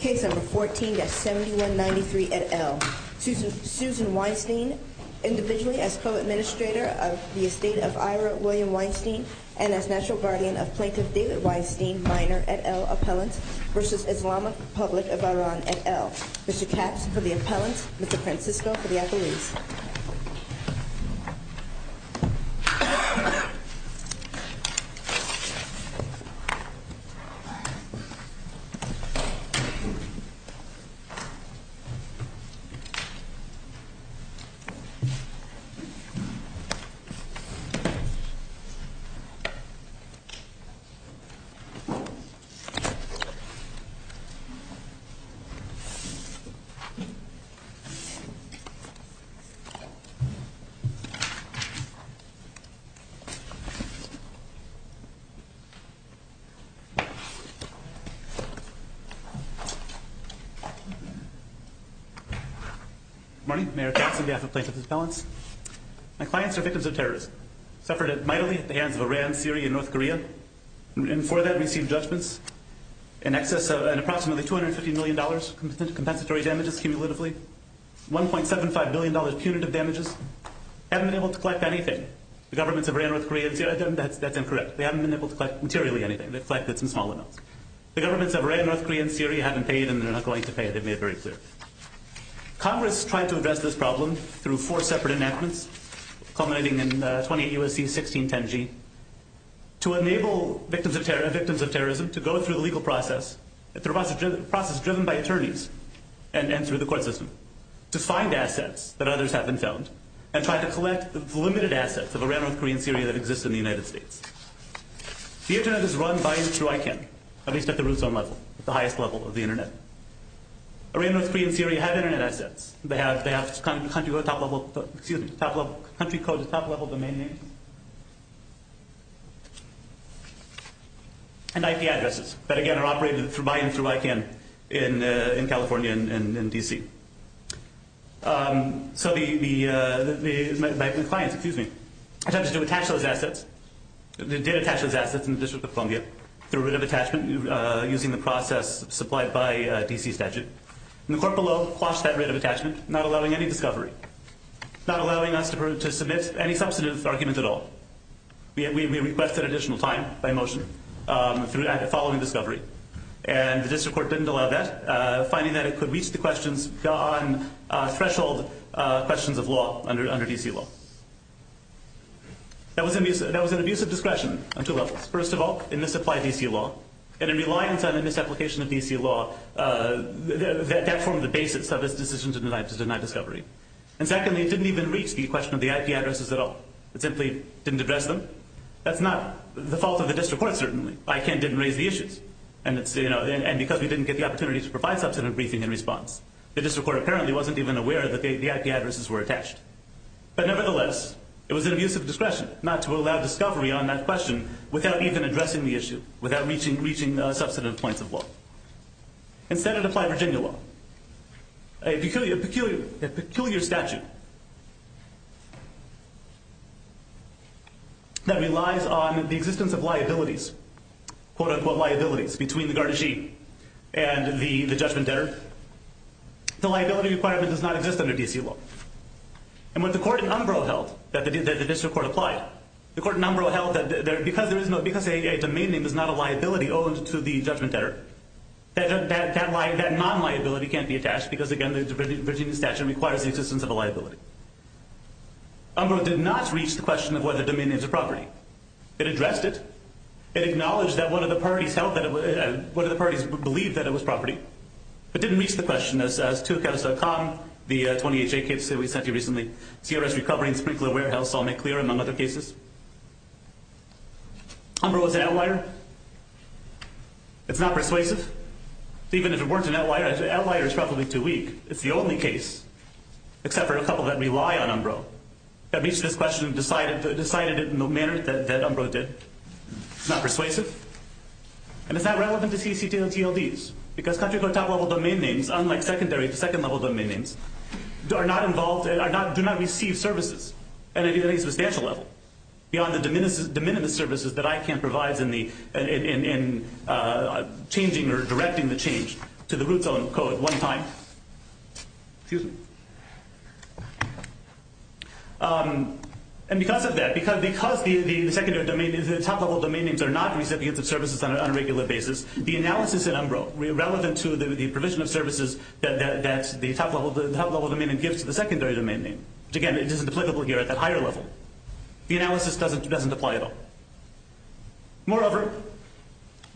Case number 14-7193, et al. Susan Weinstein, individually as co-administrator of the estate of Ira William Weinstein and as National Guardian of Plaintiff David Weinstein, minor, et al. appellant v. Islamic Republic of Iran, et al. Mr. Capps for the appellant, Mr. Francisco for the accolades. Mr. Capps. Good morning, Mayor Capps on behalf of Plaintiff's appellants. My clients are victims of terrorism. Suffered mightily at the hands of Iran, Syria, and North Korea. And for that, received judgments in excess of an approximately $250 million in compensatory damages cumulatively. $1.75 billion punitive damages. Haven't been able to collect anything. The governments of Iran, North Korea, and Syria, that's incorrect. They haven't been able to collect materially anything. They've collected some small amounts. The governments of Iran, North Korea, and Syria haven't paid and they're not going to pay. They've made it very clear. Congress tried to address this problem through four separate enactments culminating in 28 U.S.C. 1610G to enable victims of terrorism to go through the legal process, through a process driven by attorneys and through the court system to find assets that others haven't found and try to collect the limited assets of Iran, North Korea, and Syria that exist in the United States. The Internet is run by and through ICANN, at least at the root zone level, the highest level of the Internet. Iran, North Korea, and Syria have Internet assets. They have country code at the top level of the main name and IP addresses that, again, are operated by and through ICANN in California and in D.C. So the clients attempted to attach those assets. They did attach those assets in the District of Columbia through writ of attachment using the process supplied by D.C. statute. And the court below quashed that writ of attachment, not allowing any discovery, not allowing us to submit any substantive arguments at all. We requested additional time by motion following discovery. And the district court didn't allow that, finding that it could reach the questions on threshold questions of law under D.C. law. That was an abuse of discretion on two levels. First of all, in the supply of D.C. law and in reliance on the misapplication of D.C. law, that formed the basis of its decision to deny discovery. And secondly, it didn't even reach the question of the IP addresses at all. It simply didn't address them. That's not the fault of the district court, certainly. ICANN didn't raise the issues. And because we didn't get the opportunity to provide substantive briefing in response, the district court apparently wasn't even aware that the IP addresses were attached. But nevertheless, it was an abuse of discretion not to allow discovery on that question without even addressing the issue, without reaching substantive points of law. Instead, it applied Virginia law, a peculiar statute that relies on the existence of liabilities, quote-unquote liabilities, between the guardianship and the judgment debtor. The liability requirement does not exist under D.C. law. And what the court in Umbro held, that the district court applied, the court in Umbro held that because a domain name is not a liability owed to the judgment debtor, that non-liability can't be attached because, again, the Virginia statute requires the existence of a liability. Umbro did not reach the question of whether domain names are property. It addressed it. It acknowledged that one of the parties believed that it was property. It didn't reach the question, as toaccounts.com, the 28-J case that we sent you recently, CRS recovering sprinkler warehouse saw make clear, among other cases. Umbro is an outlier. It's not persuasive. Even if it weren't an outlier, an outlier is probably too weak. It's the only case, except for a couple that rely on Umbro. That reached this question and decided it in the manner that Umbro did. It's not persuasive. And it's not relevant to CCTLTLDs because country court top-level domain names, unlike secondary to second-level domain names, are not involved, do not receive services at any substantial level, beyond the de minimis services that ICANN provides in changing or directing the change to the root zone code one time. Excuse me. And because of that, because the top-level domain names are not recipients of services on a regular basis, the analysis in Umbro, relevant to the provision of services that the top-level domain name gives to the secondary domain name, which, again, isn't applicable here at that higher level, the analysis doesn't apply at all. Moreover,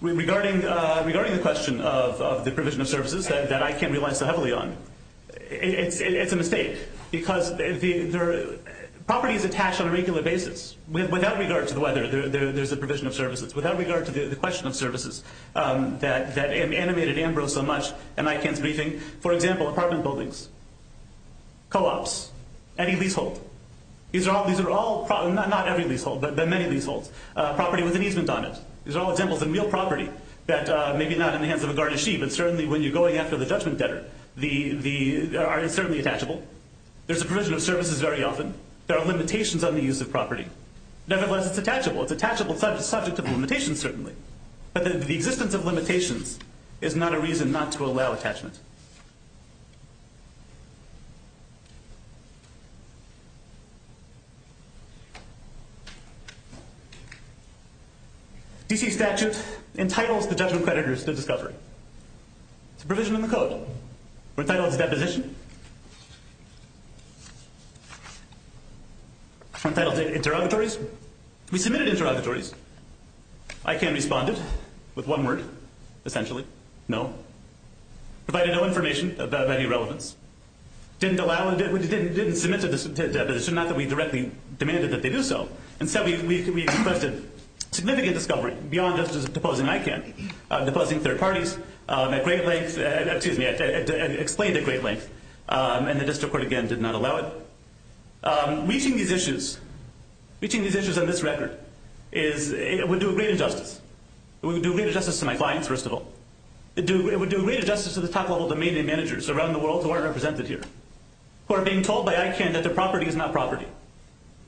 regarding the question of the provision of services that ICANN relies so heavily on, it's a mistake because properties attach on a regular basis. Without regard to the weather, there's a provision of services. Without regard to the question of services that animated Umbro so much and ICANN's briefing, for example, apartment buildings, co-ops, any leasehold. These are all, not every leasehold, but many leaseholds. Property with an easement on it. These are all examples of real property that, maybe not in the hands of a garnishee, but certainly when you're going after the judgment debtor, are certainly attachable. There's a provision of services very often. There are limitations on the use of property. Nevertheless, it's attachable. It's attachable subject to the limitations, certainly. But the existence of limitations is not a reason not to allow attachment. D.C. statute entitles the judgment creditors to discovery. It's a provision in the code. We're entitled to deposition. We're entitled to interrogatories. We submitted interrogatories. we submitted interrogatories. ICANN responded with one word, essentially, we had no information about any relevance. We didn't submit a decision, not that we directly demanded that they do so. Instead, we requested significant discovery beyond just deposing ICANN. Deposing third parties explained at great length. And the district court, again, did not allow it. Reaching these issues on this record would do great injustice. It would do great injustice to my clients, first of all. It would do great injustice to the top-level domain name managers around the world who aren't represented here. Who are being told by ICANN that their property is not property.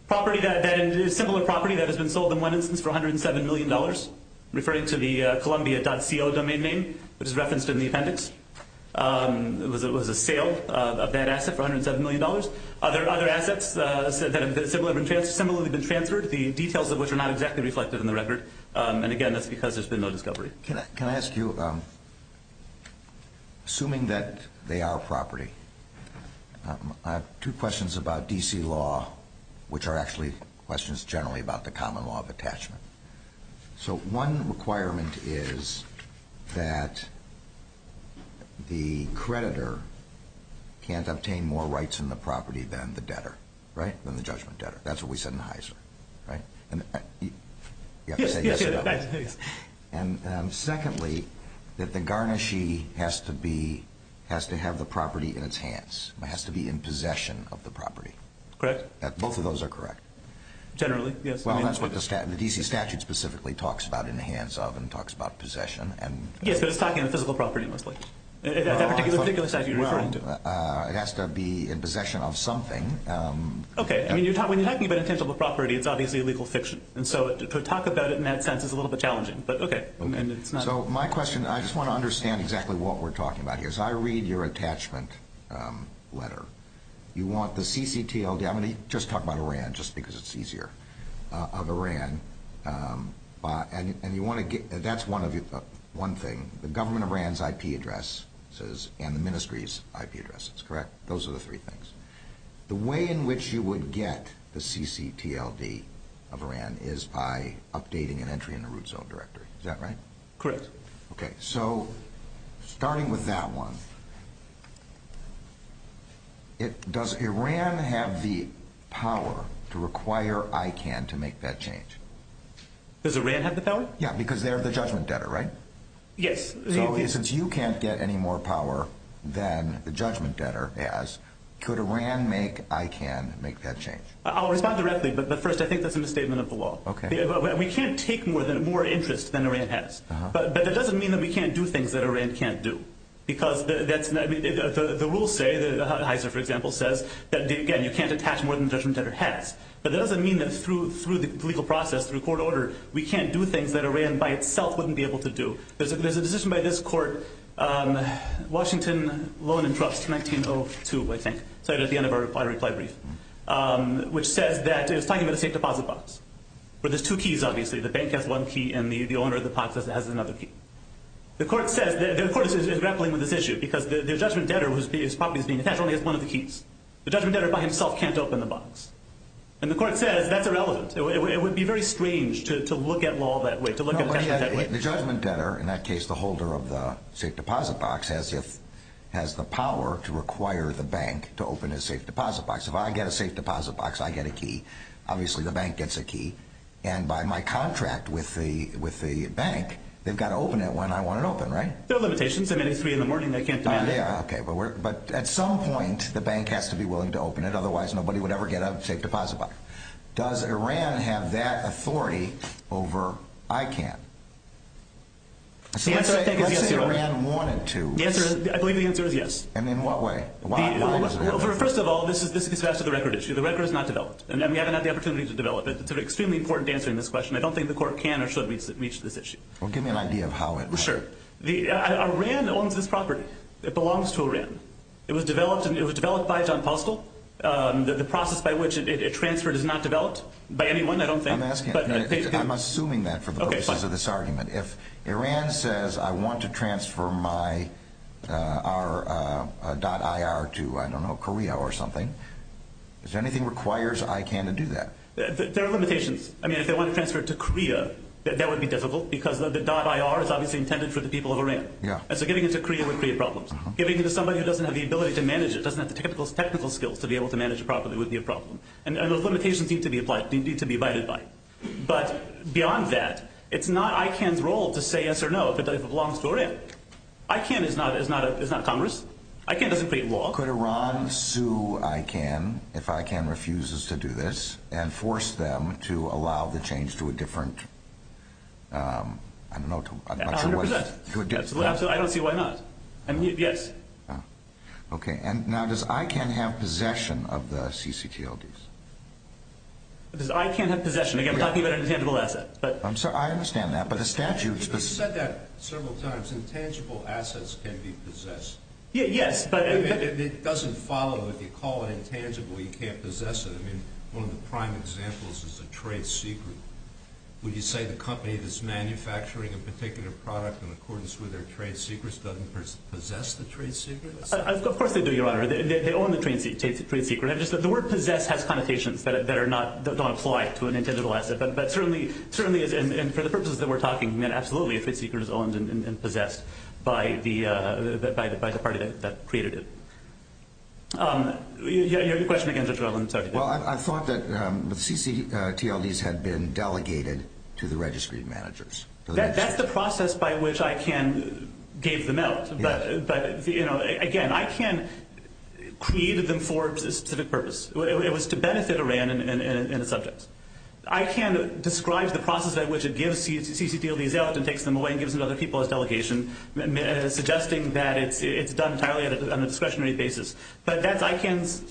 Property that is similar property that has been sold in one instance for $107 million, referring to the columbia.co domain name, which is referenced in the appendix. It was a sale of that asset for $107 million. Other assets that have similarly been transferred, the details of which are not exactly reflected in the record, and again, that's because there's been no discovery. Can I ask you, assuming that they are property, I have two questions about D.C. law, which are actually questions generally about the common law of attachment. So one requirement is that the creditor can't obtain more rights in the property than the debtor. Right? Than the judgment debtor. That's what we said in Heiser. Right? You have to say yes or no. Yes. And secondly, that the garnishee has to be, has to have the property in its hands. It has to be in possession of the property. Correct. Both of those are correct. Generally, yes. Well, that's what the D.C. statute specifically talks about in the hands of and talks about possession. Yes, but it's talking about physical property mostly. At that particular statute you're referring to. It has to be in possession of something. Okay. I mean, when you're talking about intangible property, it's obviously legal fiction. And so to talk about it in that sense is a little bit challenging, but okay. So my question, I just want to understand exactly what we're talking about here. So I read your attachment letter. You want the CCTLD, I'm going to just talk about Iran, just because it's easier, of Iran. And you want to get, that's one thing. The government of Iran's IP address and the ministry's IP address. Those are the three things. The way in which you would get the CCTLD of Iran is by updating an entry in the root zone directory. Is that right? Correct. So starting with that one, does Iran have the power to require ICANN to make that change? Does Iran have the power? Yeah, because they're the judgment debtor, right? Yes. So since you can't get any more power than the judgment debtor has, could Iran make ICANN make that change? I'll respond directly, but first I think that's a misstatement of the law. Okay. We can't take more interest than Iran has. But that doesn't mean that we can't do things that Iran can't do. Because that's, the rules say, the Heiser, for example, says that, again, you can't attach more than the judgment debtor has. But that doesn't mean that through the legal process, through court order, we can't do things that Iran by itself wouldn't be able to do. There's a decision by this court, Washington Loan and Trust, 1902, I think, at the end of our reply brief, which says that, it's talking about a safe deposit box. But there's two keys, obviously. The bank has one key, and the owner of the box has another key. The court is grappling with this issue, because the judgment debtor, whose property is being attached, only has one of the keys. The judgment debtor by himself can't open the box. And the court says that's irrelevant. It would be very strange to look at law that way. The judgment debtor, in that case, the holder of the safe deposit box, has the power to require the bank to open a safe deposit box. If I get a safe deposit box, I get a key. Obviously, the bank gets a key. And by my contract with the bank, they've got to open it when I want it open, right? There are limitations. I mean, it's 3 in the morning, they can't demand it. But at some point, the bank has to be willing to open it. Does Iran have that authority over ICANN? Let's say Iran wanted to. I believe the answer is yes. And in what way? First of all, this is a record issue. The record is not developed. We haven't had the opportunity to develop it. It's extremely important to answer this question. I don't think the court can or should reach this issue. Iran owns this property. It belongs to Iran. It was developed by John Postel. The process by which it transferred is not developed by anyone, I don't think. I'm assuming that for the purposes of this argument. If Iran says, I want to transfer my .ir to, I don't know, Korea or something, does anything require ICANN to do that? There are limitations. I mean, if they want to transfer it to Korea, that would be difficult because the .ir is obviously intended for the people of Iran. So giving it to Korea would create problems. Giving it to somebody who doesn't have the ability to manage it, doesn't have the technical skills to be able to manage a property would be a problem. And those limitations need to be abided by. But beyond that, it's not ICANN's role to say yes or no if it belongs to Iran. ICANN is not Congress. ICANN doesn't create law. Could Iran sue ICANN if ICANN refuses to do this and force them to allow the change to a different... I don't know. I don't see why not. Yes. Okay. And now, does ICANN have possession of the ccTLDs? Does ICANN have possession? Again, we're talking about an intangible asset. I understand that, but the statute... You said that several times. Intangible assets can be possessed. Yes, but... It doesn't follow. If you call it intangible, you can't possess it. I mean, one of the prime examples is a trade secret. Would you say the company that's manufacturing a particular product in accordance with their trade secrets doesn't possess the trade secret? Of course they do, Your Honor. They own the trade secret. The word possess has connotations that don't apply to an intangible asset. But certainly, and for the purposes that we're talking, absolutely, a trade secret is owned and possessed by the party that created it. You had your question again, Judge Rutland. I thought that the ccTLDs had been delegated to the registry managers. That's the process by which ICANN gave them out. But again, ICANN created them for a specific purpose. It was to benefit Iran and its subjects. ICANN describes the process by which it gives ccTLDs out and takes them away and gives them to other people as delegation, suggesting that it's done entirely on a discretionary basis. But that's ICANN's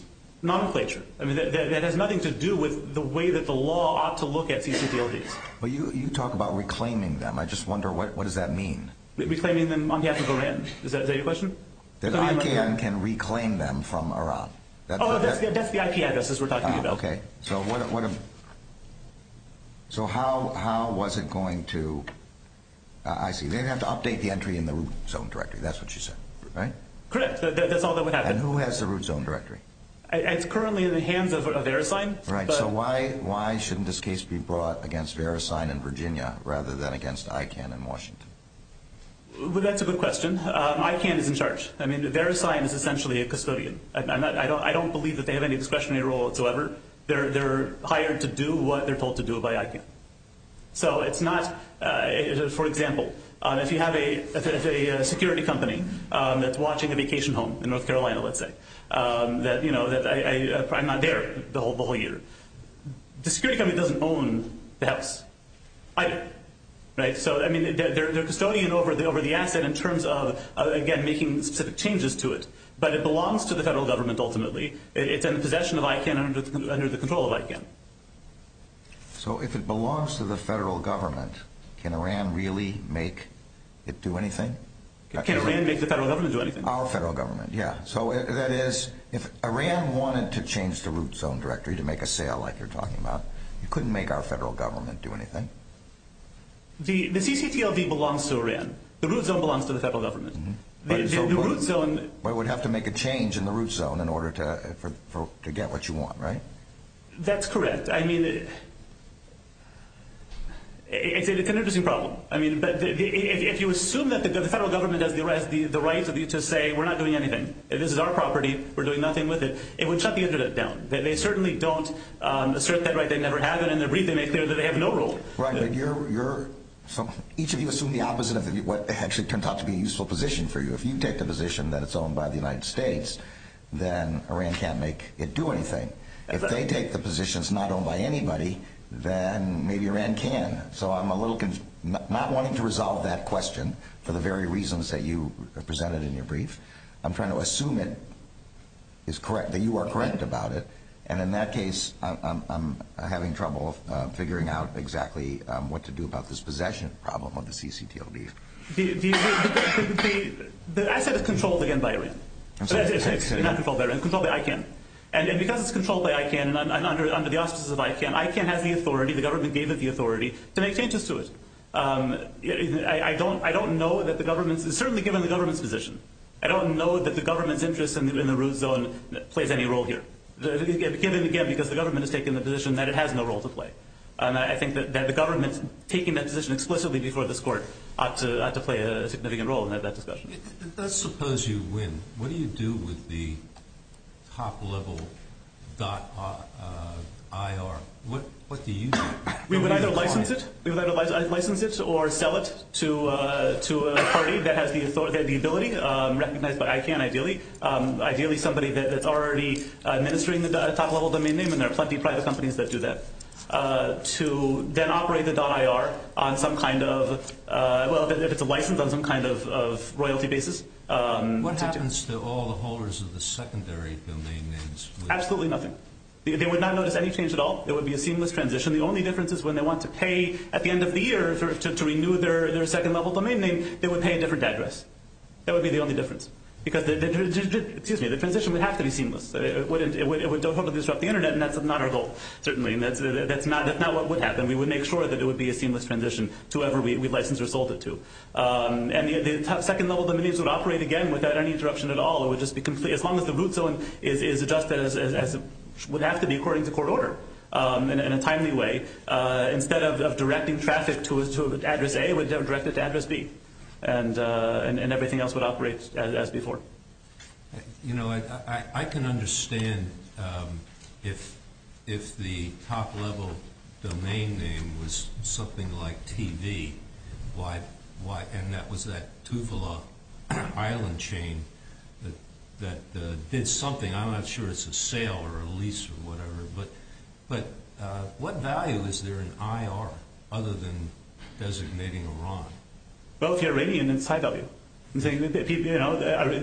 nomenclature. That has nothing to do with the way that the law ought to look at ccTLDs. You talk about reclaiming them. I just wonder, what does that mean? Reclaiming them on behalf of Iran? Is that your question? That ICANN can reclaim them from Iran. Oh, that's the IP addresses we're talking about. Okay. So how was it going to... I see. They didn't have to update the entry in the root zone directory. That's what you said. Correct. That's all that would happen. And who has the root zone directory? It's currently in the hands of Verisign. So why shouldn't this case be brought against Verisign in Virginia rather than against ICANN in Washington? That's a good question. ICANN is in charge. Verisign is essentially a custodian. I don't believe that they have any discretionary role whatsoever. They're hired to do what they're told to do by ICANN. So it's not... For example, if you have a security company that's watching a vacation home in North Carolina, let's say, I'm not there the whole year. The security company doesn't own the house. Either. They're custodian over the asset in terms of, again, making specific changes to it. But it belongs to the federal government ultimately. It's in the possession of ICANN under the control of ICANN. So if it belongs to the federal government, can Iran really make it do anything? Can Iran make the federal government do anything? Our federal government, yeah. That is, if Iran wanted to change the root zone directory to make a sale like you're talking about, you couldn't make our federal government do anything. The CCTLV belongs to Iran. The root zone belongs to the federal government. The root zone... But it would have to make a change in the root zone in order to get what you want, right? That's correct. I mean... It's an interesting problem. If you assume that the federal government has the right to say, we're not doing anything. This is our property. We're doing nothing with it. It would shut the internet down. They certainly don't assert that right. They never have it. They have no role. Each of you assume the opposite of what actually turns out to be a useful position for you. If you take the position that it's owned by the United States, then Iran can't make it do anything. If they take the positions not owned by anybody, then maybe Iran can. So I'm a little not wanting to resolve that question for the very reasons that you presented in your brief. I'm trying to assume that you are correct about it, and in that case I'm having trouble figuring out exactly CCTLV. The asset is controlled again by Iran. It's not controlled by Iran. It's controlled by ICANN. And because it's controlled by ICANN, under the auspices of ICANN, ICANN has the authority, the government gave it the authority to make changes to it. I don't know that the government is certainly given the government's position. I don't know that the government's interest in the root zone plays any role here. Again, because the government has taken the position that it has no role to play. I think that the government taking that position explicitly before this court ought to play a significant role in that discussion. Let's suppose you win. What do you do with the top-level dot IR? What do you do? We would either license it or sell it to a party that has the ability, recognized by ICANN ideally, ideally somebody that's already administering the top-level domain name, and there are plenty of private companies that do that, to then operate the dot IR on some kind of, well, if it's a license on some kind of royalty basis. What happens to all the holders of the secondary domain names? Absolutely nothing. They would not notice any change at all. It would be a seamless transition. The only difference is when they want to pay at the end of the year to renew their second-level domain name, they would pay a different address. That would be the only difference. The transition would have to be seamless. It would hopefully disrupt the internet, and that's not our goal, certainly. That's not what would happen. We would make sure that it would be a seamless transition to whoever we licensed or sold it to. The second-level domain names would operate again without any interruption at all. As long as the root zone is adjusted as it would have to be according to court order in a timely way, instead of directing traffic to address A, it would direct it to address B, and everything else would operate as before. You know, I can understand if the top-level domain name was something like TV, and that was that Tuvalu island chain that did something. I'm not sure it's a sale or a lease or whatever, but what value is there in IR other than designating Iran? Well, if you're Iranian, it's high value.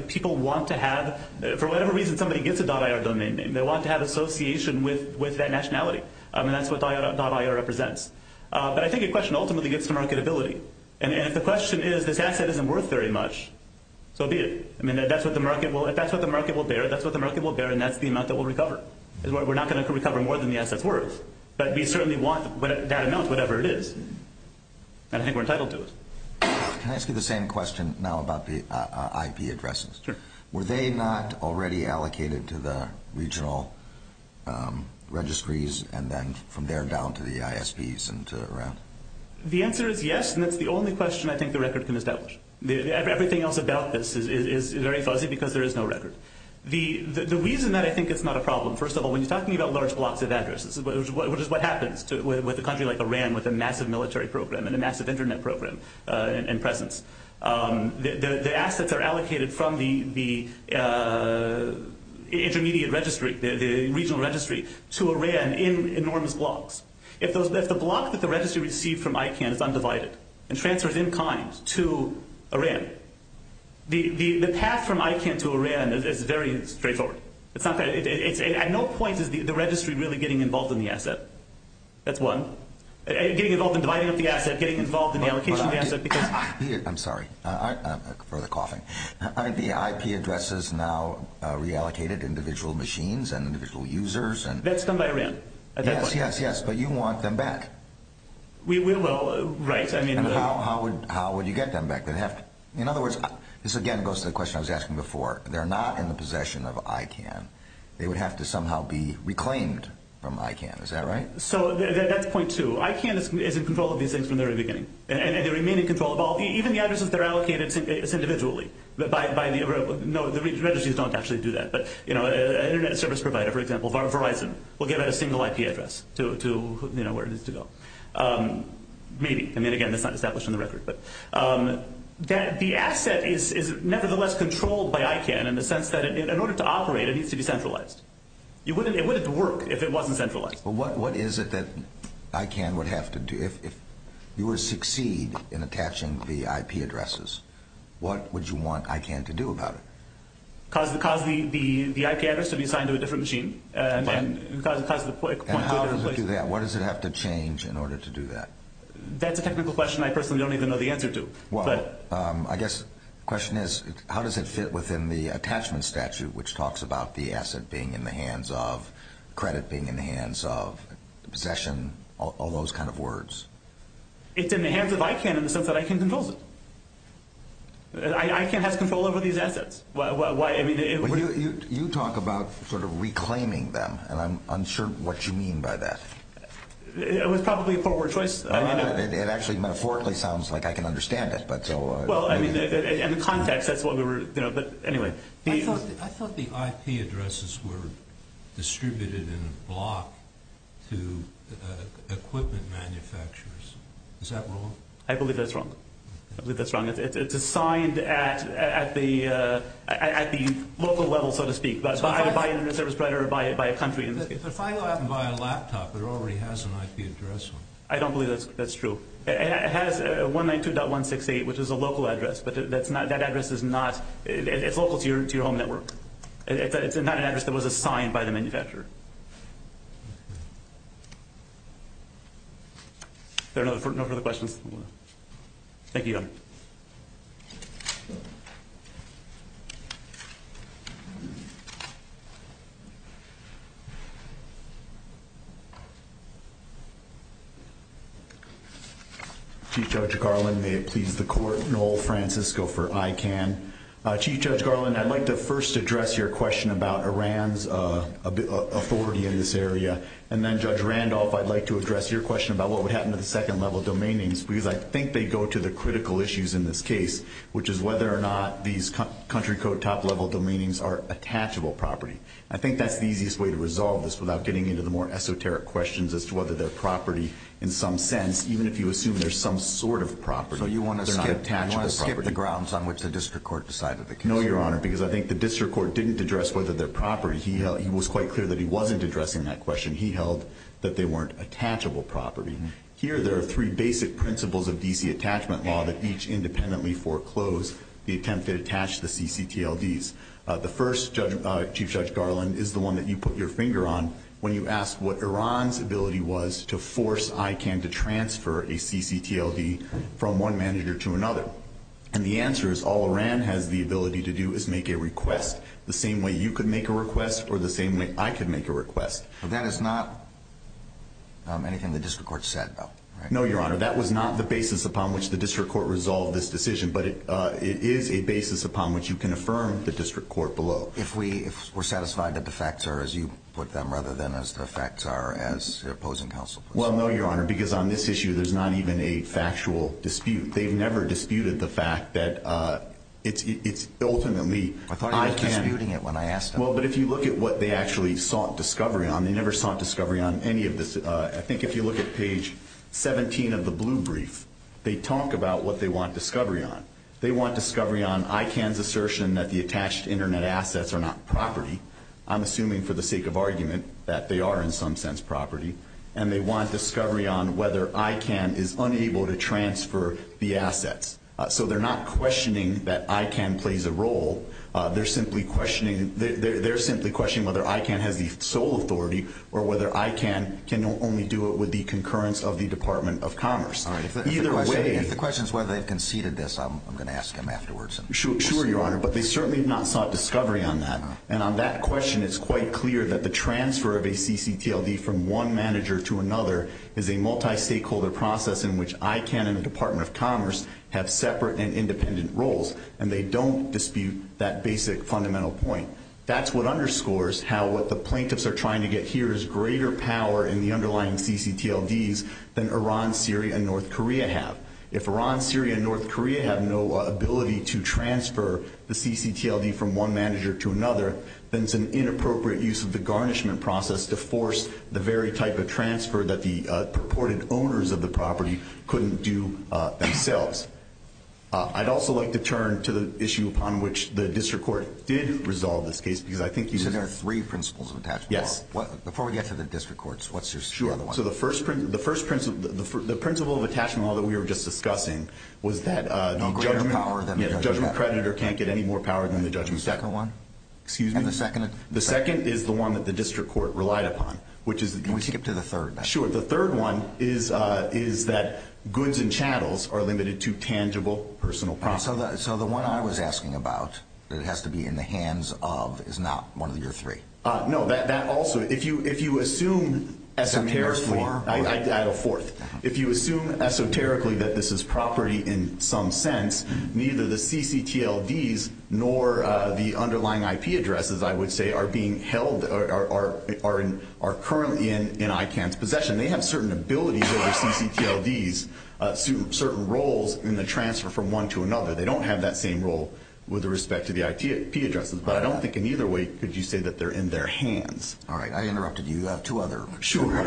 People want to have for whatever reason, somebody gets a .IR domain name. They want to have association with that nationality. That's what .IR represents. But I think the question ultimately gets to marketability. And if the question is, this asset isn't worth very much, so be it. If that's what the market will bear, that's what the market will bear, and that's the amount that we'll recover. We're not going to recover more than the asset's worth, but we certainly want that amount, whatever it is. And I think we're entitled to it. Can I ask you the same question now about the IP addresses? Were they not already allocated to the regional registries, and then from there down to the ISPs and to Iran? The answer is yes, and that's the only question I think the record can establish. Everything else about this is very fuzzy because there is no record. The reason that I think it's not a problem, first of all, when you're talking about large blocks of addresses, which is what happens with a country like Iran with a massive military program and a massive internet program in presence, the assets are allocated from the intermediate registry, the regional registry to Iran in enormous blocks. If the block that the registry received from ICANN is undivided and transfers in kind to Iran, the path from ICANN to Iran is very straightforward. At no point is the registry really getting involved in the asset. That's one. Getting involved in dividing up the asset, getting involved in the allocation of the asset because... I'm sorry. I'm further coughing. The IP addresses now are reallocated to individual machines and individual users. That's done by Iran. But you want them back. We will. How would you get them back? In other words, this again goes to the question I was asking before. They're not in the possession of ICANN. They would have to somehow be reclaimed from ICANN. Is that right? That's point two. ICANN is in control of these things from the very beginning. Even the addresses that are allocated, it's individually. The registries don't actually do that. An internet service provider, for example, Verizon, will give out a single IP address to where it needs to go. Maybe. Again, that's not established on the record. The asset is nevertheless controlled by ICANN in the sense that in order to operate, it needs to be centralized. It wouldn't work if it wasn't centralized. What is it that ICANN would have to do? If you were to succeed in attaching the IP addresses, what would you want ICANN to do about it? Cause the IP address to be assigned to a different machine. How does it do that? What does it have to change in order to do that? That's a technical question I personally don't even know the answer to. I guess the question is how does it fit within the attachment statute which talks about the asset being in the hands of, credit being in the hands of, possession, all those kind of words. It's in the hands of ICANN in the sense that ICANN controls it. ICANN has control over these assets. You talk about sort of reclaiming them and I'm unsure what you mean by that. It was probably a poor word choice. It actually metaphorically sounds like I can understand it. In the context, that's what we were... I thought the IP addresses were distributed in a block to equipment manufacturers. Is that wrong? I believe that's wrong. It's assigned at the local level so to speak. By an internet service provider or by a country. If I go out and buy a laptop it already has an IP address on it. I don't believe that's true. It has 192.168 which is a local address but that address is not... It's local to your home network. It's not an address that was assigned by the manufacturer. Are there no further questions? Thank you, Your Honor. Chief Judge Garland, may it please the court. Noel Francisco for ICANN. Chief Judge Garland, I'd like to first address your question about Iran's authority in this area and then Judge Randolph, I'd like to address your question about what would happen to the second level domain names because I think they go to the critical issues in this case which is whether or not these country code top level domain names are attachable property. I think that's the easiest way to resolve this without getting into the more esoteric questions as to whether they're property in some sense even if you assume there's some sort of property. So you want to skip the grounds on which the district court decided the case? No, Your Honor, because I think the district court didn't address whether they're property. He was quite clear that he wasn't addressing that question. He held that they weren't attachable property. Here there are three basic principles of DC attachment law that each independently foreclose the attempt to attach the CCTLDs. The first, Chief Judge Garland, is the one that you put your finger on when you asked what Iran's ability was to force ICANN to transfer a CCTLD from one manager to another. And the answer is all Iran has the ability to do is make a request the same way you could make a request or the same way I could make a request. That is not anything the district court said, though. No, Your Honor, that was not the basis upon which the district court resolved this decision, but it is a basis upon which you can affirm the district court below. If we're satisfied that the facts are as you put them rather than as the facts are as your opposing counsel puts it. Well, no, Your Honor, because on this issue there's not even a factual dispute. They've never disputed the fact that it's ultimately I thought he was disputing it when I asked him. Well, but if you look at what they actually sought discovery on, they never sought discovery on any of this. I think if you look at page 17 of the blue brief, they talk about what they want discovery on. They want discovery on ICANN's assertion that the attached internet assets are not property. I'm assuming for the sake of argument that they are in some sense property. And they want discovery on whether ICANN is unable to transfer the assets. So they're not questioning that ICANN plays a role. They're simply questioning whether ICANN has the sole authority or whether ICANN can only do it with the concurrence of the Department of Commerce. If the question is whether they've conceded this, I'm going to ask him afterwards. Sure, Your Honor, but they certainly have not sought discovery on that. And on that question it's quite clear that the transfer of a CCTLD from one manager to another is a multi-stakeholder process in which ICANN and the Department of Commerce have separate and independent roles. And they don't dispute that basic fundamental point. That's what underscores how what the plaintiffs are trying to get here is greater power in the underlying CCTLDs than Iran, Syria, and North Korea have. If Iran, Syria, and North Korea have no ability to transfer the CCTLD from one manager to another, then it's an inappropriate use of the garnishment process to force the very type of transfer that the purported owners of the property couldn't do themselves. I'd also like to turn to the issue upon which the district court did resolve this case because I think you... So there are three principles of attachment law? Yes. Before we get to the district courts, what's the other one? Sure, so the first principle of attachment law that we were just discussing was that the judgment creditor can't get any more power than the judgment second. Excuse me? And the second? The second is the one that the district court relied upon. Can we skip to the third? Sure. The third one is that goods and chattels are limited to tangible, personal property. So the one I was asking about, that it has to be in the hands of, is not one of your three? No, that also... If you assume esoterically... I had a fourth. If you assume esoterically that this is property in some sense, neither the CCTLDs nor the underlying IP addresses, I would say, are being currently in ICANN's possession. They have certain abilities over CCTLDs, certain roles in the transfer from one to another. They don't have that same role with respect to the IP addresses, but I don't think in either way could you say that they're in their hands. Alright, I interrupted you. You have two other... Sure.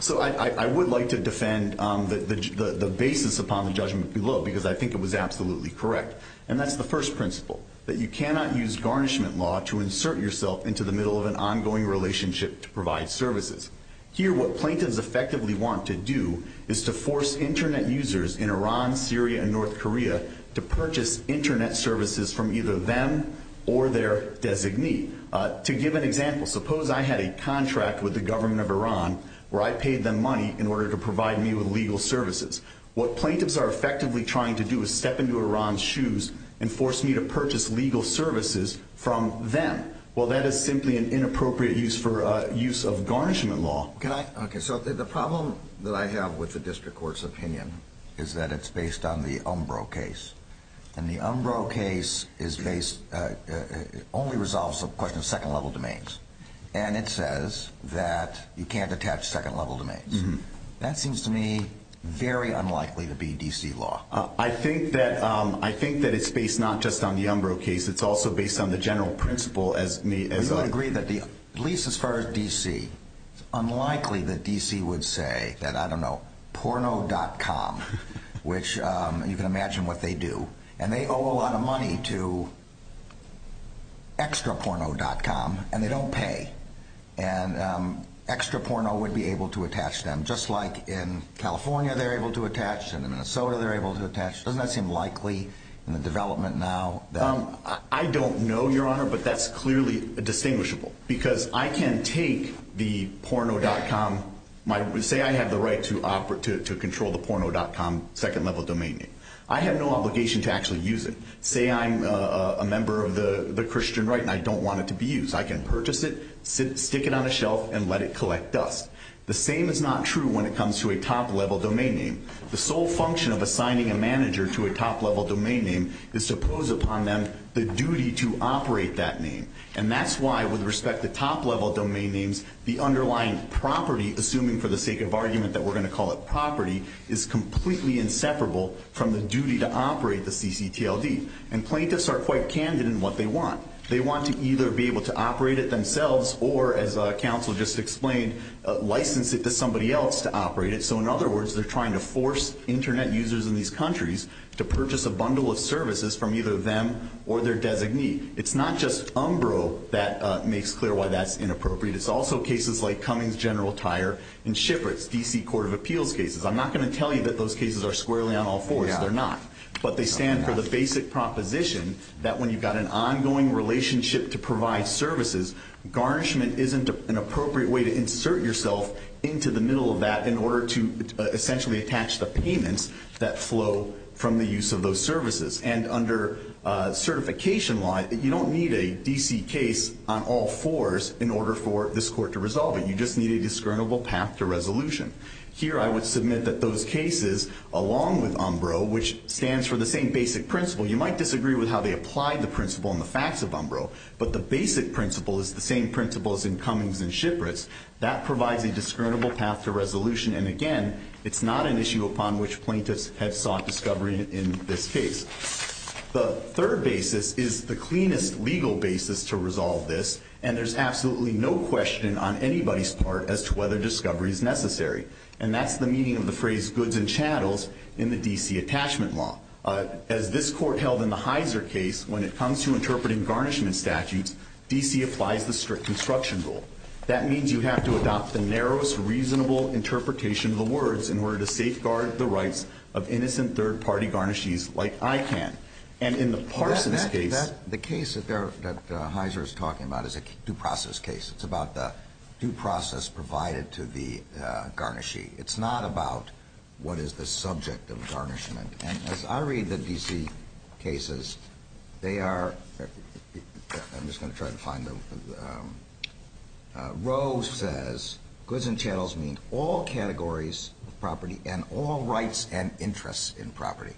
So I would like to defend the basis upon the judgment below, because I think it was absolutely correct. And that's the first principle, that you cannot use garnishment law to insert yourself into the middle of an ongoing relationship to provide services. Here, what plaintiffs effectively want to do is to force Internet users in Iran, Syria, and North Korea to purchase Internet services from either them or their designee. To give an example, suppose I had a contract with the government of Iran where I paid them money in order to provide me with legal services. What plaintiffs are effectively trying to do is step into Iran's shoes and force me to purchase legal services from them. Well, that is simply an inappropriate use of garnishment law. The problem that I have with the District Court's opinion is that it's based on the Umbro case. And the Umbro case only resolves the question of second-level domains. And it says that you can't attach second-level domains. That seems to me very unlikely to be D.C. law. I think that it's based not just on the Umbro case. It's also based on the general principle as I agree that at least as far as D.C., it's unlikely that D.C. would say that, I don't know, porno.com, which you can imagine what they do. And they owe a lot of money to extraporno.com, and they don't pay. And Extraporno would be able to attach them, just like in California they're able to attach, and in Minnesota they're able to attach. Doesn't that seem likely in the development now? I don't know, Your Honor, but that's clearly distinguishable. Because I can take the porno.com, say I have the right to control the porno.com second-level domain name. I have no obligation to actually use it. Say I'm a member of the Christian Right, and I don't want it to be used. I can purchase it, stick it on a shelf, and let it collect dust. The same is not true when it comes to a top-level domain name. The sole function of assigning a manager to a top-level domain name is to pose upon them the duty to operate that name. And that's why, with respect to top-level domain names, the underlying property, assuming for the sake of argument that we're going to call it property, is completely inseparable from the duty to operate the ccTLD. And plaintiffs are quite candid in what they want. They want to either be able to operate it themselves or, as counsel just explained, license it to somebody else to operate it. So, in other words, they're trying to force Internet users in these countries to purchase a bundle of services from either them or their designee. It's not just Umbro that makes clear why that's inappropriate. It's also cases like Cummings General Tire and Shifrits, D.C. Court of Appeals cases. I'm not going to tell you that those cases are squarely on all fours. They're not. But they stand for the basic proposition that when you've got an ongoing relationship to provide services, garnishment isn't an appropriate way to do that in order to essentially attach the payments that flow from the use of those services. And under certification law, you don't need a D.C. case on all fours in order for this court to resolve it. You just need a discernible path to resolution. Here, I would submit that those cases, along with Umbro, which stands for the same basic principle, you might disagree with how they apply the principle and the facts of Umbro, but the basic principle is the same principle as in Cummings and Shifrits. That provides a discernible path to resolution, and again, it's not an issue upon which plaintiffs have sought discovery in this case. The third basis is the cleanest legal basis to resolve this, and there's absolutely no question on anybody's part as to whether discovery is necessary. And that's the meaning of the phrase goods and chattels in the D.C. attachment law. As this court held in the Heiser case, when it comes to interpreting garnishment statutes, D.C. applies the district construction rule. That means you have to adopt the narrowest reasonable interpretation of the words in order to safeguard the rights of innocent third-party garnishees like ICANN. And in the Parsons case... The case that Heiser is talking about is a due process case. It's about the due process provided to the garnishee. It's not about what is the subject of garnishment. And as I read the D.C. cases, they are... I'm just going to try to find the... Roe says goods and chattels mean all categories of property and all rights and interests in property.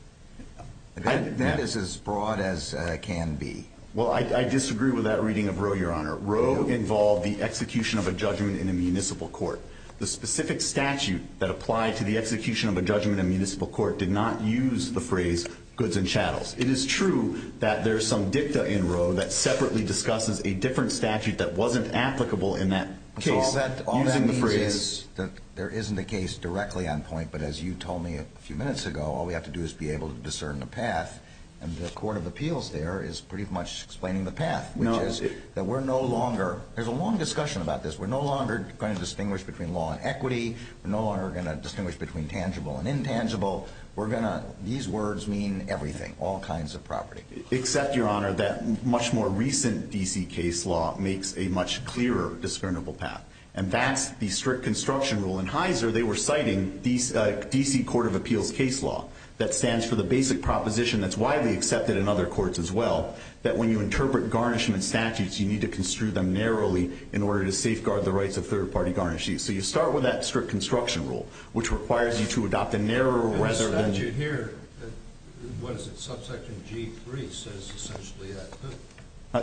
That is as broad as it can be. Well, I disagree with that reading of Roe, Your Honor. Roe involved the execution of a judgment in a municipal court. The specific statute that applied to the execution of a judgment in a municipal court did not use the phrase goods and chattels. It is true that there's some dicta in Roe that separately discusses a different statute that wasn't applicable in that case. All that means is that there isn't a case directly on point, but as you told me a few minutes ago, all we have to do is be able to discern the path. And the Court of Appeals there is pretty much explaining the path, which is that we're no longer... There's a long discussion about this. We're no longer going to distinguish between law and equity. We're no longer going to distinguish between tangible and intangible. We're going to... We're going to have to have a very clear understanding of the different kinds of property. Except, Your Honor, that much more recent D.C. case law makes a much clearer, discernible path. And that's the strict construction rule. In Heiser, they were citing D.C. Court of Appeals case law that stands for the basic proposition that's widely accepted in other courts as well, that when you interpret garnishment statutes, you need to construe them narrowly in order to safeguard the property.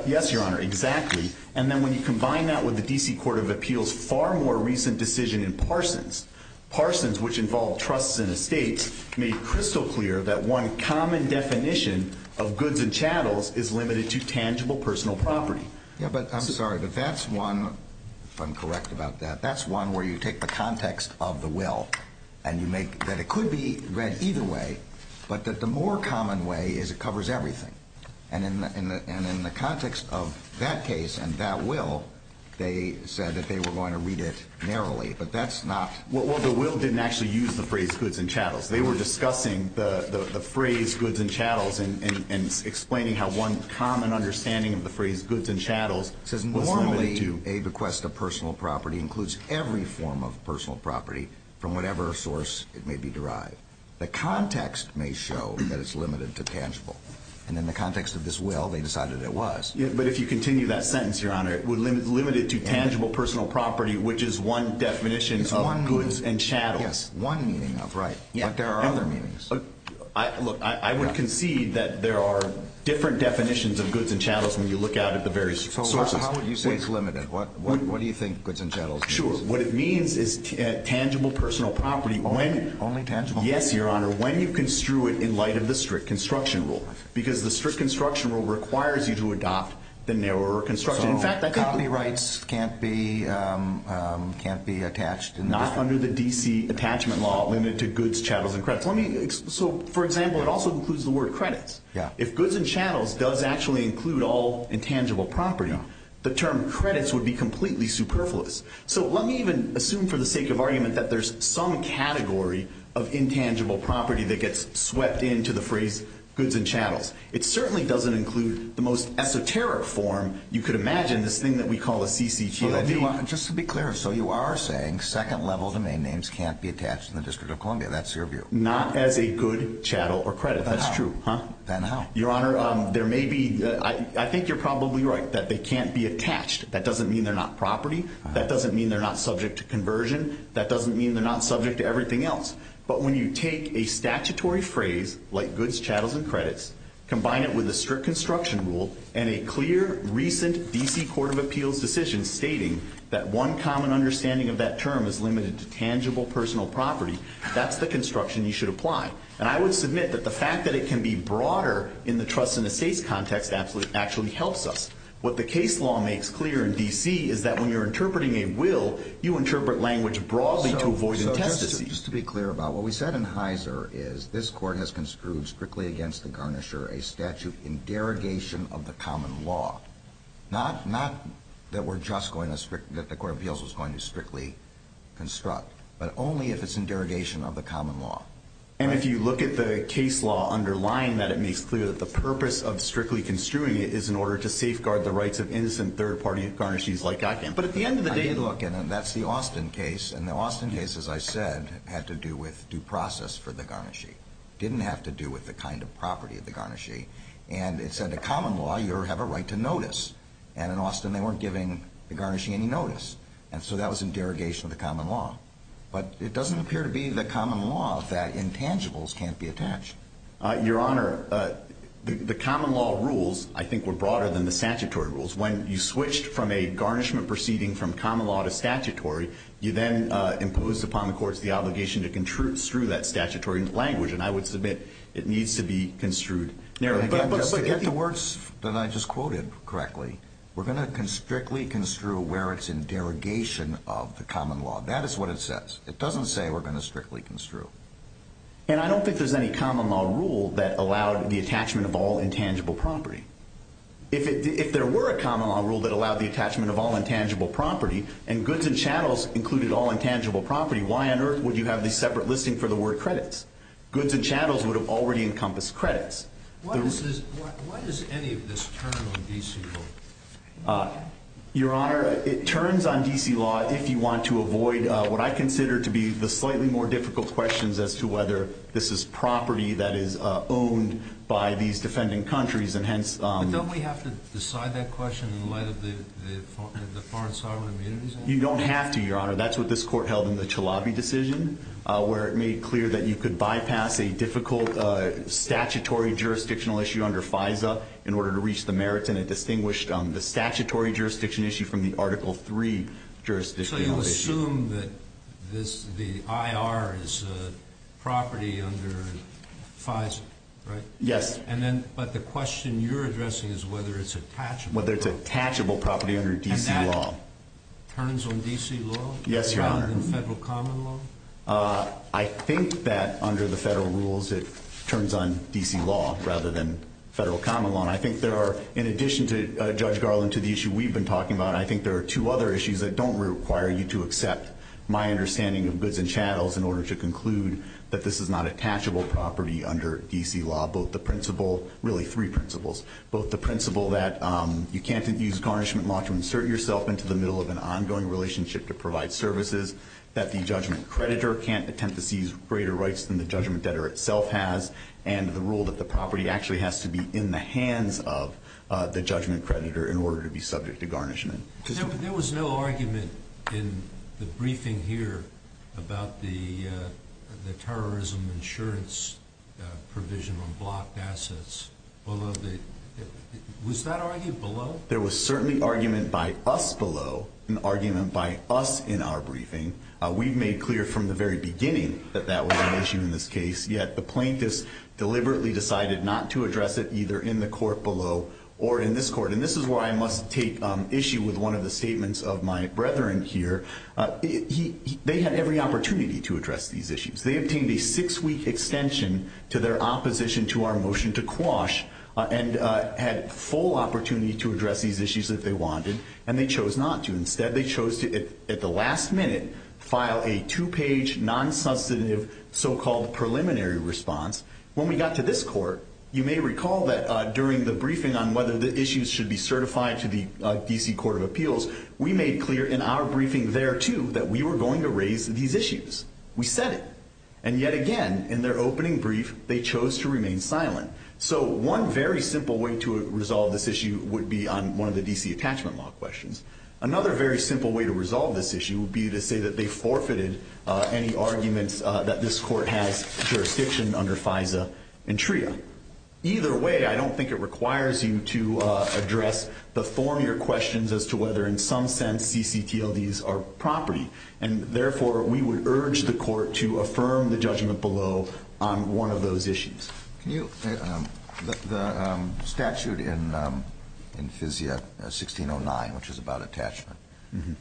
Yes, Your Honor, exactly. And then when you combine that with the D.C. Court of Appeals' far more recent decision in Parsons, Parsons, which involved trusts and estates, made crystal clear that one common definition of goods and chattels is limited to tangible personal property. Yeah, but I'm sorry, but that's one, if I'm correct about that, that's one where you take the context of the will, and you make that it could be read either way, but the more common way is it covers everything. And in the context of that case and that will, they said that they were going to read it narrowly, but that's not... Well, the will didn't actually use the phrase goods and chattels. They were discussing the phrase goods and chattels and explaining how one common understanding of the phrase goods and chattels was limited to... Normally, a bequest of personal property includes every form of personal property from whatever source it may be derived. The context may show that it's limited to tangible. And in the context of this will, they decided it was. Yeah, but if you continue that sentence, Your Honor, it would limit it to tangible personal property, which is one definition of goods and chattels. Yes, one meaning of, right, but there are other meanings. Look, I would concede that there are different definitions of goods and chattels when you look out at the various sources. So how would you say it's limited? What do you think goods and chattels means? Sure. What it means is tangible personal property when... Only tangible? Yes, Your Honor, when you construe it in light of the strict construction rule. Because the strict construction rule requires you to adopt the narrower construction. So, company rights can't be attached... Not under the D.C. attachment law limited to goods, chattels, and credits. So, for example, it also includes the word credits. If goods and chattels does actually include all intangible property, the term credits would be completely superfluous. So, let me even assume for the sake of argument that there's some category of intangible property that gets swept into the phrase goods and chattels. It certainly doesn't include the most esoteric form you could imagine, this thing that we call a CCTLD. Just to be clear, so you are saying second level domain names can't be attached in the District of Columbia. That's your view? Not as a good, chattel, or credit. That's true. Then how? Your Honor, there may be... I think you're probably right that they can't be attached. That doesn't mean they're not property. That doesn't mean they're not subject to conversion. That doesn't mean they're not subject to everything else. But when you take a statutory phrase, like goods, chattels, and credits, combine it with a strict construction rule, and a clear, recent D.C. Court of Appeals decision stating that one common understanding of that term is limited to tangible personal property, that's the construction you should apply. And I would submit that the fact that it can be broader in the trusts and estates context actually helps us. What the case law makes clear in D.C. is that when you're interpreting a will, you interpret language broadly to avoid... So just to be clear about what we said in Heiser is this court has construed strictly against the garnisher a statute in derogation of the common law. Not that we're just going to strictly... that the Court of Appeals was going to strictly construct, but only if it's in derogation of the common law. And if you look at the case law underlying that, it makes clear that the purpose of strictly construing it is in order to safeguard the rights of innocent third-party garnishees like I can. But at the end of the day... Look, and that's the Austin case, and the Austin case, as I said, had to do with due process for the garnishee. Didn't have to do with the kind of property of the garnishee. And it said the common law, you have a right to notice. And in Austin, they weren't giving the garnishee any notice. And so that was in derogation of the common law. But it doesn't appear to be the common law that intangibles can't be attached. Your Honor, the common law rules, I think, were broader than the statutory rules. When you switched from a garnishment proceeding from common law to statutory, you then imposed upon the courts the obligation to construe that statutory language. And I would submit, it needs to be construed narrowly. But get the words that I just quoted correctly. We're going to strictly construe where it's in derogation of the common law. That is what it says. It doesn't say we're going to strictly construe. And I don't think there's any common law rule that allowed the attachment of all intangible property. If there were a common law rule that allowed the attachment of all intangible property and goods and channels included all intangible property, why on earth would you have the separate listing for the word credits? Goods and channels would have already encompassed credits. Why does any of this turn on D.C. law? Your Honor, it turns on D.C. law if you want to avoid what I consider to be the slightly more difficult questions as to whether this is property that is owned by these defending countries and hence... But don't we have to decide that question in light of the foreign sovereign immunities law? You don't have to, Your Honor. That's what this Court held in the Chalabi decision where it made clear that you could bypass a difficult statutory jurisdictional issue under FISA in order to reach the merits and it distinguished the statutory jurisdiction issue from the Article III jurisdiction. So you assume that the I.R. is property under FISA, right? Yes. But the question you're addressing is whether it's attachable. Whether it's attachable property under D.C. law. And that turns on D.C. law? Yes, Your Honor. Rather than federal common law? I think that under the federal rules it turns on D.C. law rather than federal common law and I think there are, in addition to Judge Garland, to the issue we've been talking about I think there are two other issues that don't require you to accept my understanding of goods and channels in order to conclude that this is not attachable property under D.C. law. Both the principle really three principles. Both the principle that you can't use garnishment law to insert yourself into the middle of an ongoing relationship to provide services that the judgment creditor can't attempt to seize greater rights than the judgment debtor itself has and the rule that the property actually has to be in the hands of the judgment creditor in order to be subject to garnishment. There was no argument in the briefing here about the terrorism insurance provision on blocked assets was that argued below? There was certainly argument by us below an argument by us in our briefing we've made clear from the very beginning that that was an issue in this case yet the plaintiffs deliberately decided not to address it either in the court and this is where I must take issue with one of the statements of my brethren here. They had every opportunity to address these issues they obtained a six week extension to their opposition to our motion to quash and had full opportunity to address these issues if they wanted and they chose not to instead they chose to at the last minute file a two page non-sensitive so called preliminary response. When we got to this court you may recall that during the briefing on whether the issues should be certified to the D.C. Court of Appeals we made clear in our briefing there too that we were going to raise these issues. We said it and yet again in their opening brief they chose to remain silent so one very simple way to resolve this issue would be on one of the D.C. attachment law questions. Another very simple way to resolve this issue would be to say that they forfeited any arguments that this court has jurisdiction under FISA and I don't think it requires you to address the form your questions as to whether in some sense CCTLD's are property and therefore we would urge the court to affirm the judgment below on one of those issues. The statute in FISA 1609 which is about attachment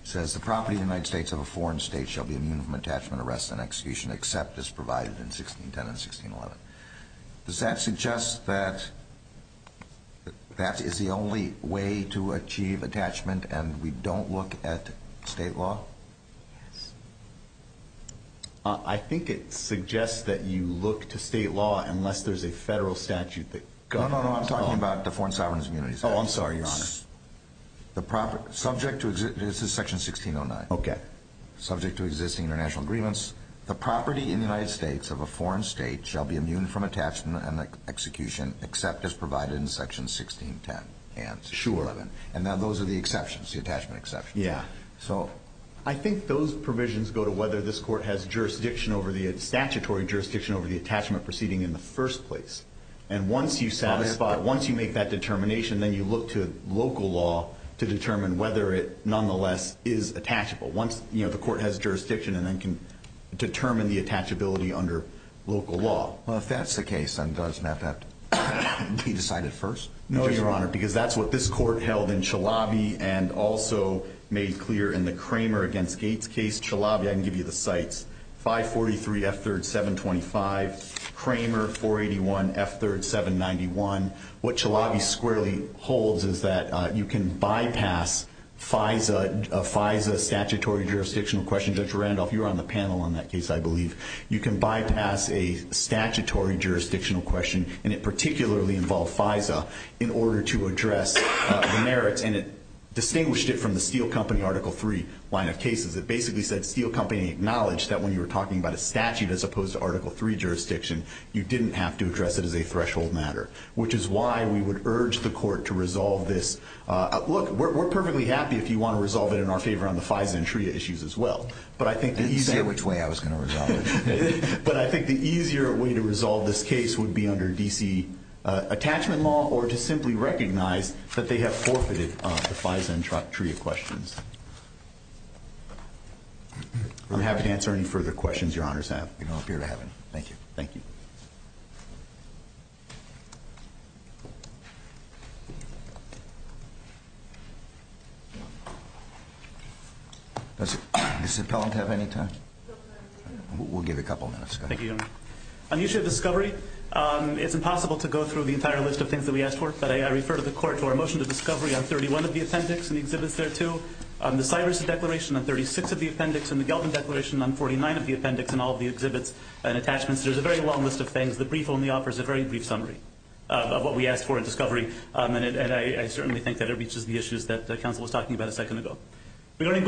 says the property of the United States of a foreign state shall be immune from attachment arrest and execution except as provided in 1610 and 1611. Does that suggest that that is the only way to achieve attachment and we don't look at state law? Yes. I think it suggests that you look to state law unless there's a federal statute that governs No, no, no, I'm talking about the Foreign Sovereign Immunity Statute. Oh, I'm sorry, Your Honor. Subject to, this is section 1609. Okay. Subject to existing international agreements, the property in the United States of a foreign state shall be immune from attachment and execution except as provided in section 1610 and 1611. And those are the exceptions, the attachment exceptions. Yeah. I think those provisions go to whether this court has jurisdiction over the statutory jurisdiction over the attachment proceeding in the first place. And once you satisfy it, once you make that determination, then you look to local law to determine whether it nonetheless is attachable. Once the court has determined that the property is to determine whether it is attachability under local law. Well, if that's the case, then does that have to be decided first? No, Your Honor, because that's what this court held in Chalabi and also made clear in the Kramer against Gates case. Chalabi, I can give you the cites, 543 F3rd 725, Kramer 481 F3rd 791. What Chalabi squarely holds is that you can bypass FISA statutory jurisdictional question. Judge Randolph, you're on the panel on that case, I believe. You can bypass a statutory jurisdictional question, and it particularly involved FISA in order to address the merits. And it distinguished it from the Steel Company Article 3 line of cases. It basically said Steel Company acknowledged that when you were talking about a statute as opposed to Article 3 jurisdiction, you didn't have to address it as a threshold matter, which is why we would urge the court to resolve this. Look, we're perfectly happy if you want to resolve it in our favor on the FISA and TRIA issues as well. And see which way I was going to resolve it. But I think the easier way to resolve this case would be under D.C. attachment law or to simply recognize that they have forfeited the FISA and TRIA questions. I'm happy to answer any further questions Your Honors have. We don't appear to have any. Thank you. Thank you. Thank you. Does Ms. Appellant have any time? We'll give a couple minutes. Thank you, Your Honor. On the issue of discovery, it's impossible to go through the entire list of things that we asked for, but I refer to the court for a motion to discovery on 31 of the appendix and the exhibits there too. The Cyrus Declaration on 36 of the appendix and the Gelbin Declaration on 49 of the appendix and all of the exhibits and attachments. There's a very long list of things. The brief only offers a very brief summary of what we asked for in discovery, and I certainly think that it reaches the issues that counsel was talking about a second ago. Regarding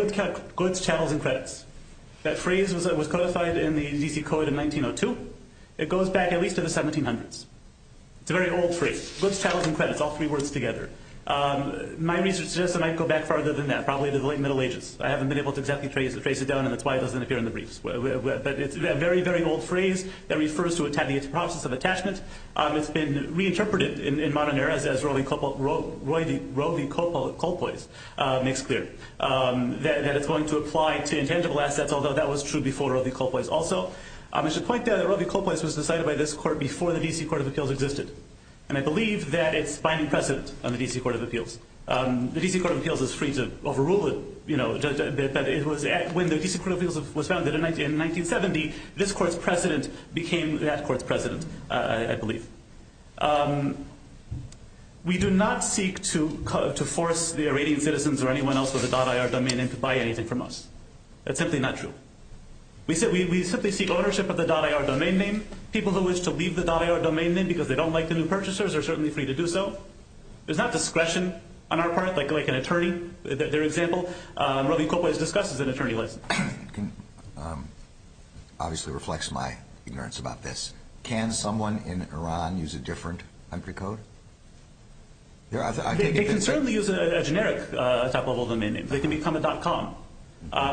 goods, channels, and credits, that phrase was codified in the D.C. Code in 1902. It goes back at least to the 1700s. It's a very old phrase. Goods, channels, and credits, all three words together. My research suggests it might go back farther than that, probably to the late Middle Ages. I haven't been able to exactly trace it down and that's why it doesn't appear in the briefs. But it's a very, very old phrase that has been reinterpreted in modern eras as Roe v. Coppola makes clear. That it's going to apply to intangible assets, although that was true before Roe v. Coppola also. I should point out that Roe v. Coppola was decided by this court before the D.C. Court of Appeals existed. And I believe that it's binding precedent on the D.C. Court of Appeals. The D.C. Court of Appeals is free to overrule it. When the D.C. Court of Appeals was founded in 1970, this court's precedent became that court's precedent, I believe. We do not seek to force the Iranian citizens or anyone else with a .IR domain name to buy anything from us. That's simply not true. We simply seek ownership of the .IR domain name. People who wish to leave the .IR domain name because they don't like the new purchasers are certainly free to do so. There's not discretion on our part, like an attorney, their example. Roe v. Coppola is discussed as an attorney license. Can obviously reflects my ignorance about this. Can someone in Iran use a different entry code? They can certainly use a generic type of domain name. They can become a .com.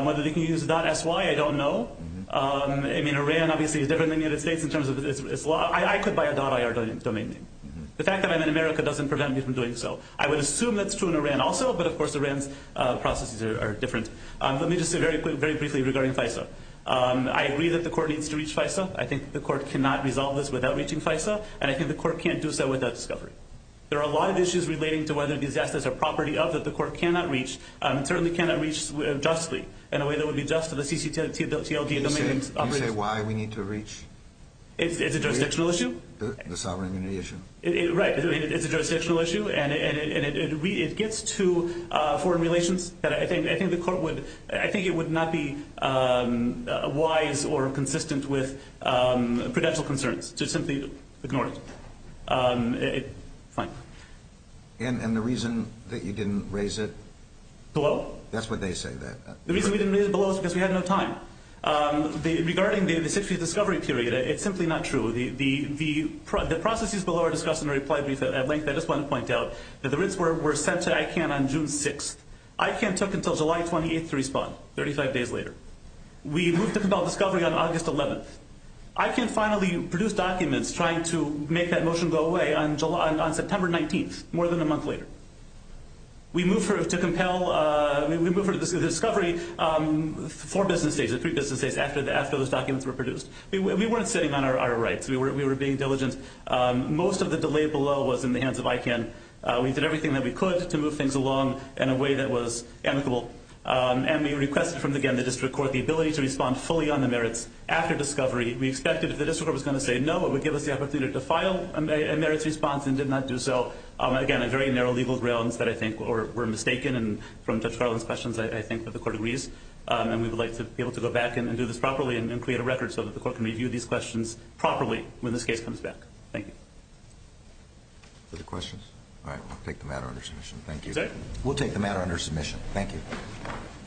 Whether they can use a .sy, I don't know. I mean, Iran obviously is different than the United States in terms of its law. I could buy a .IR domain name. The fact that I'm in America doesn't prevent me from doing so. I would assume that's true in Iran also, but of course Iran's processes are different. Let me just say very briefly regarding FISA. I agree that the court needs to reach FISA. I think the court cannot resolve this without reaching FISA and I think the court can't do so without discovery. There are a lot of issues relating to whether disasters are property of that the court cannot reach and certainly cannot reach justly in a way that would be just to the CCTLD domain name. Can you say why we need to reach? It's a jurisdictional issue. The sovereign immunity issue. Right. It's a jurisdictional issue and it gets to foreign relations. I think the court would, I think it would not be wise or consistent with prudential concerns. Just simply ignore it. Fine. And the reason that you didn't raise it? Below. That's what they say. The reason we didn't raise it below is because we had no time. Regarding the 60th discovery period, it's simply not true. The processes below are discussed in a reply brief at length. I just want to point out that the writs were sent to ICANN on June 6th. ICANN took until July 28th to respond, 35 days later. We moved to compel discovery on August 11th. ICANN finally produced documents trying to make that motion go away on September 19th, more than a month later. We moved to compel discovery four business days, three business days after those documents were produced. We weren't sitting on our rights. We were being diligent. Most of the delay below was in the hands of ICANN. We did everything that we could to move things along in a way that was amicable. And we requested from, again, the District Court the ability to respond fully on the merits after discovery. We expected if the District Court was going to say no, it would give us the opportunity to file a merits response and did not do so. Again, on very narrow legal grounds that I think were mistaken, and from Judge Garland's questions, I think that the Court agrees. And we would like to be able to go back and do this properly and create a record so that the Court can review these questions properly when this case comes back. Thank you. Other questions? All right. We'll take the matter under submission. Thank you. We'll take the matter under submission. Thank you.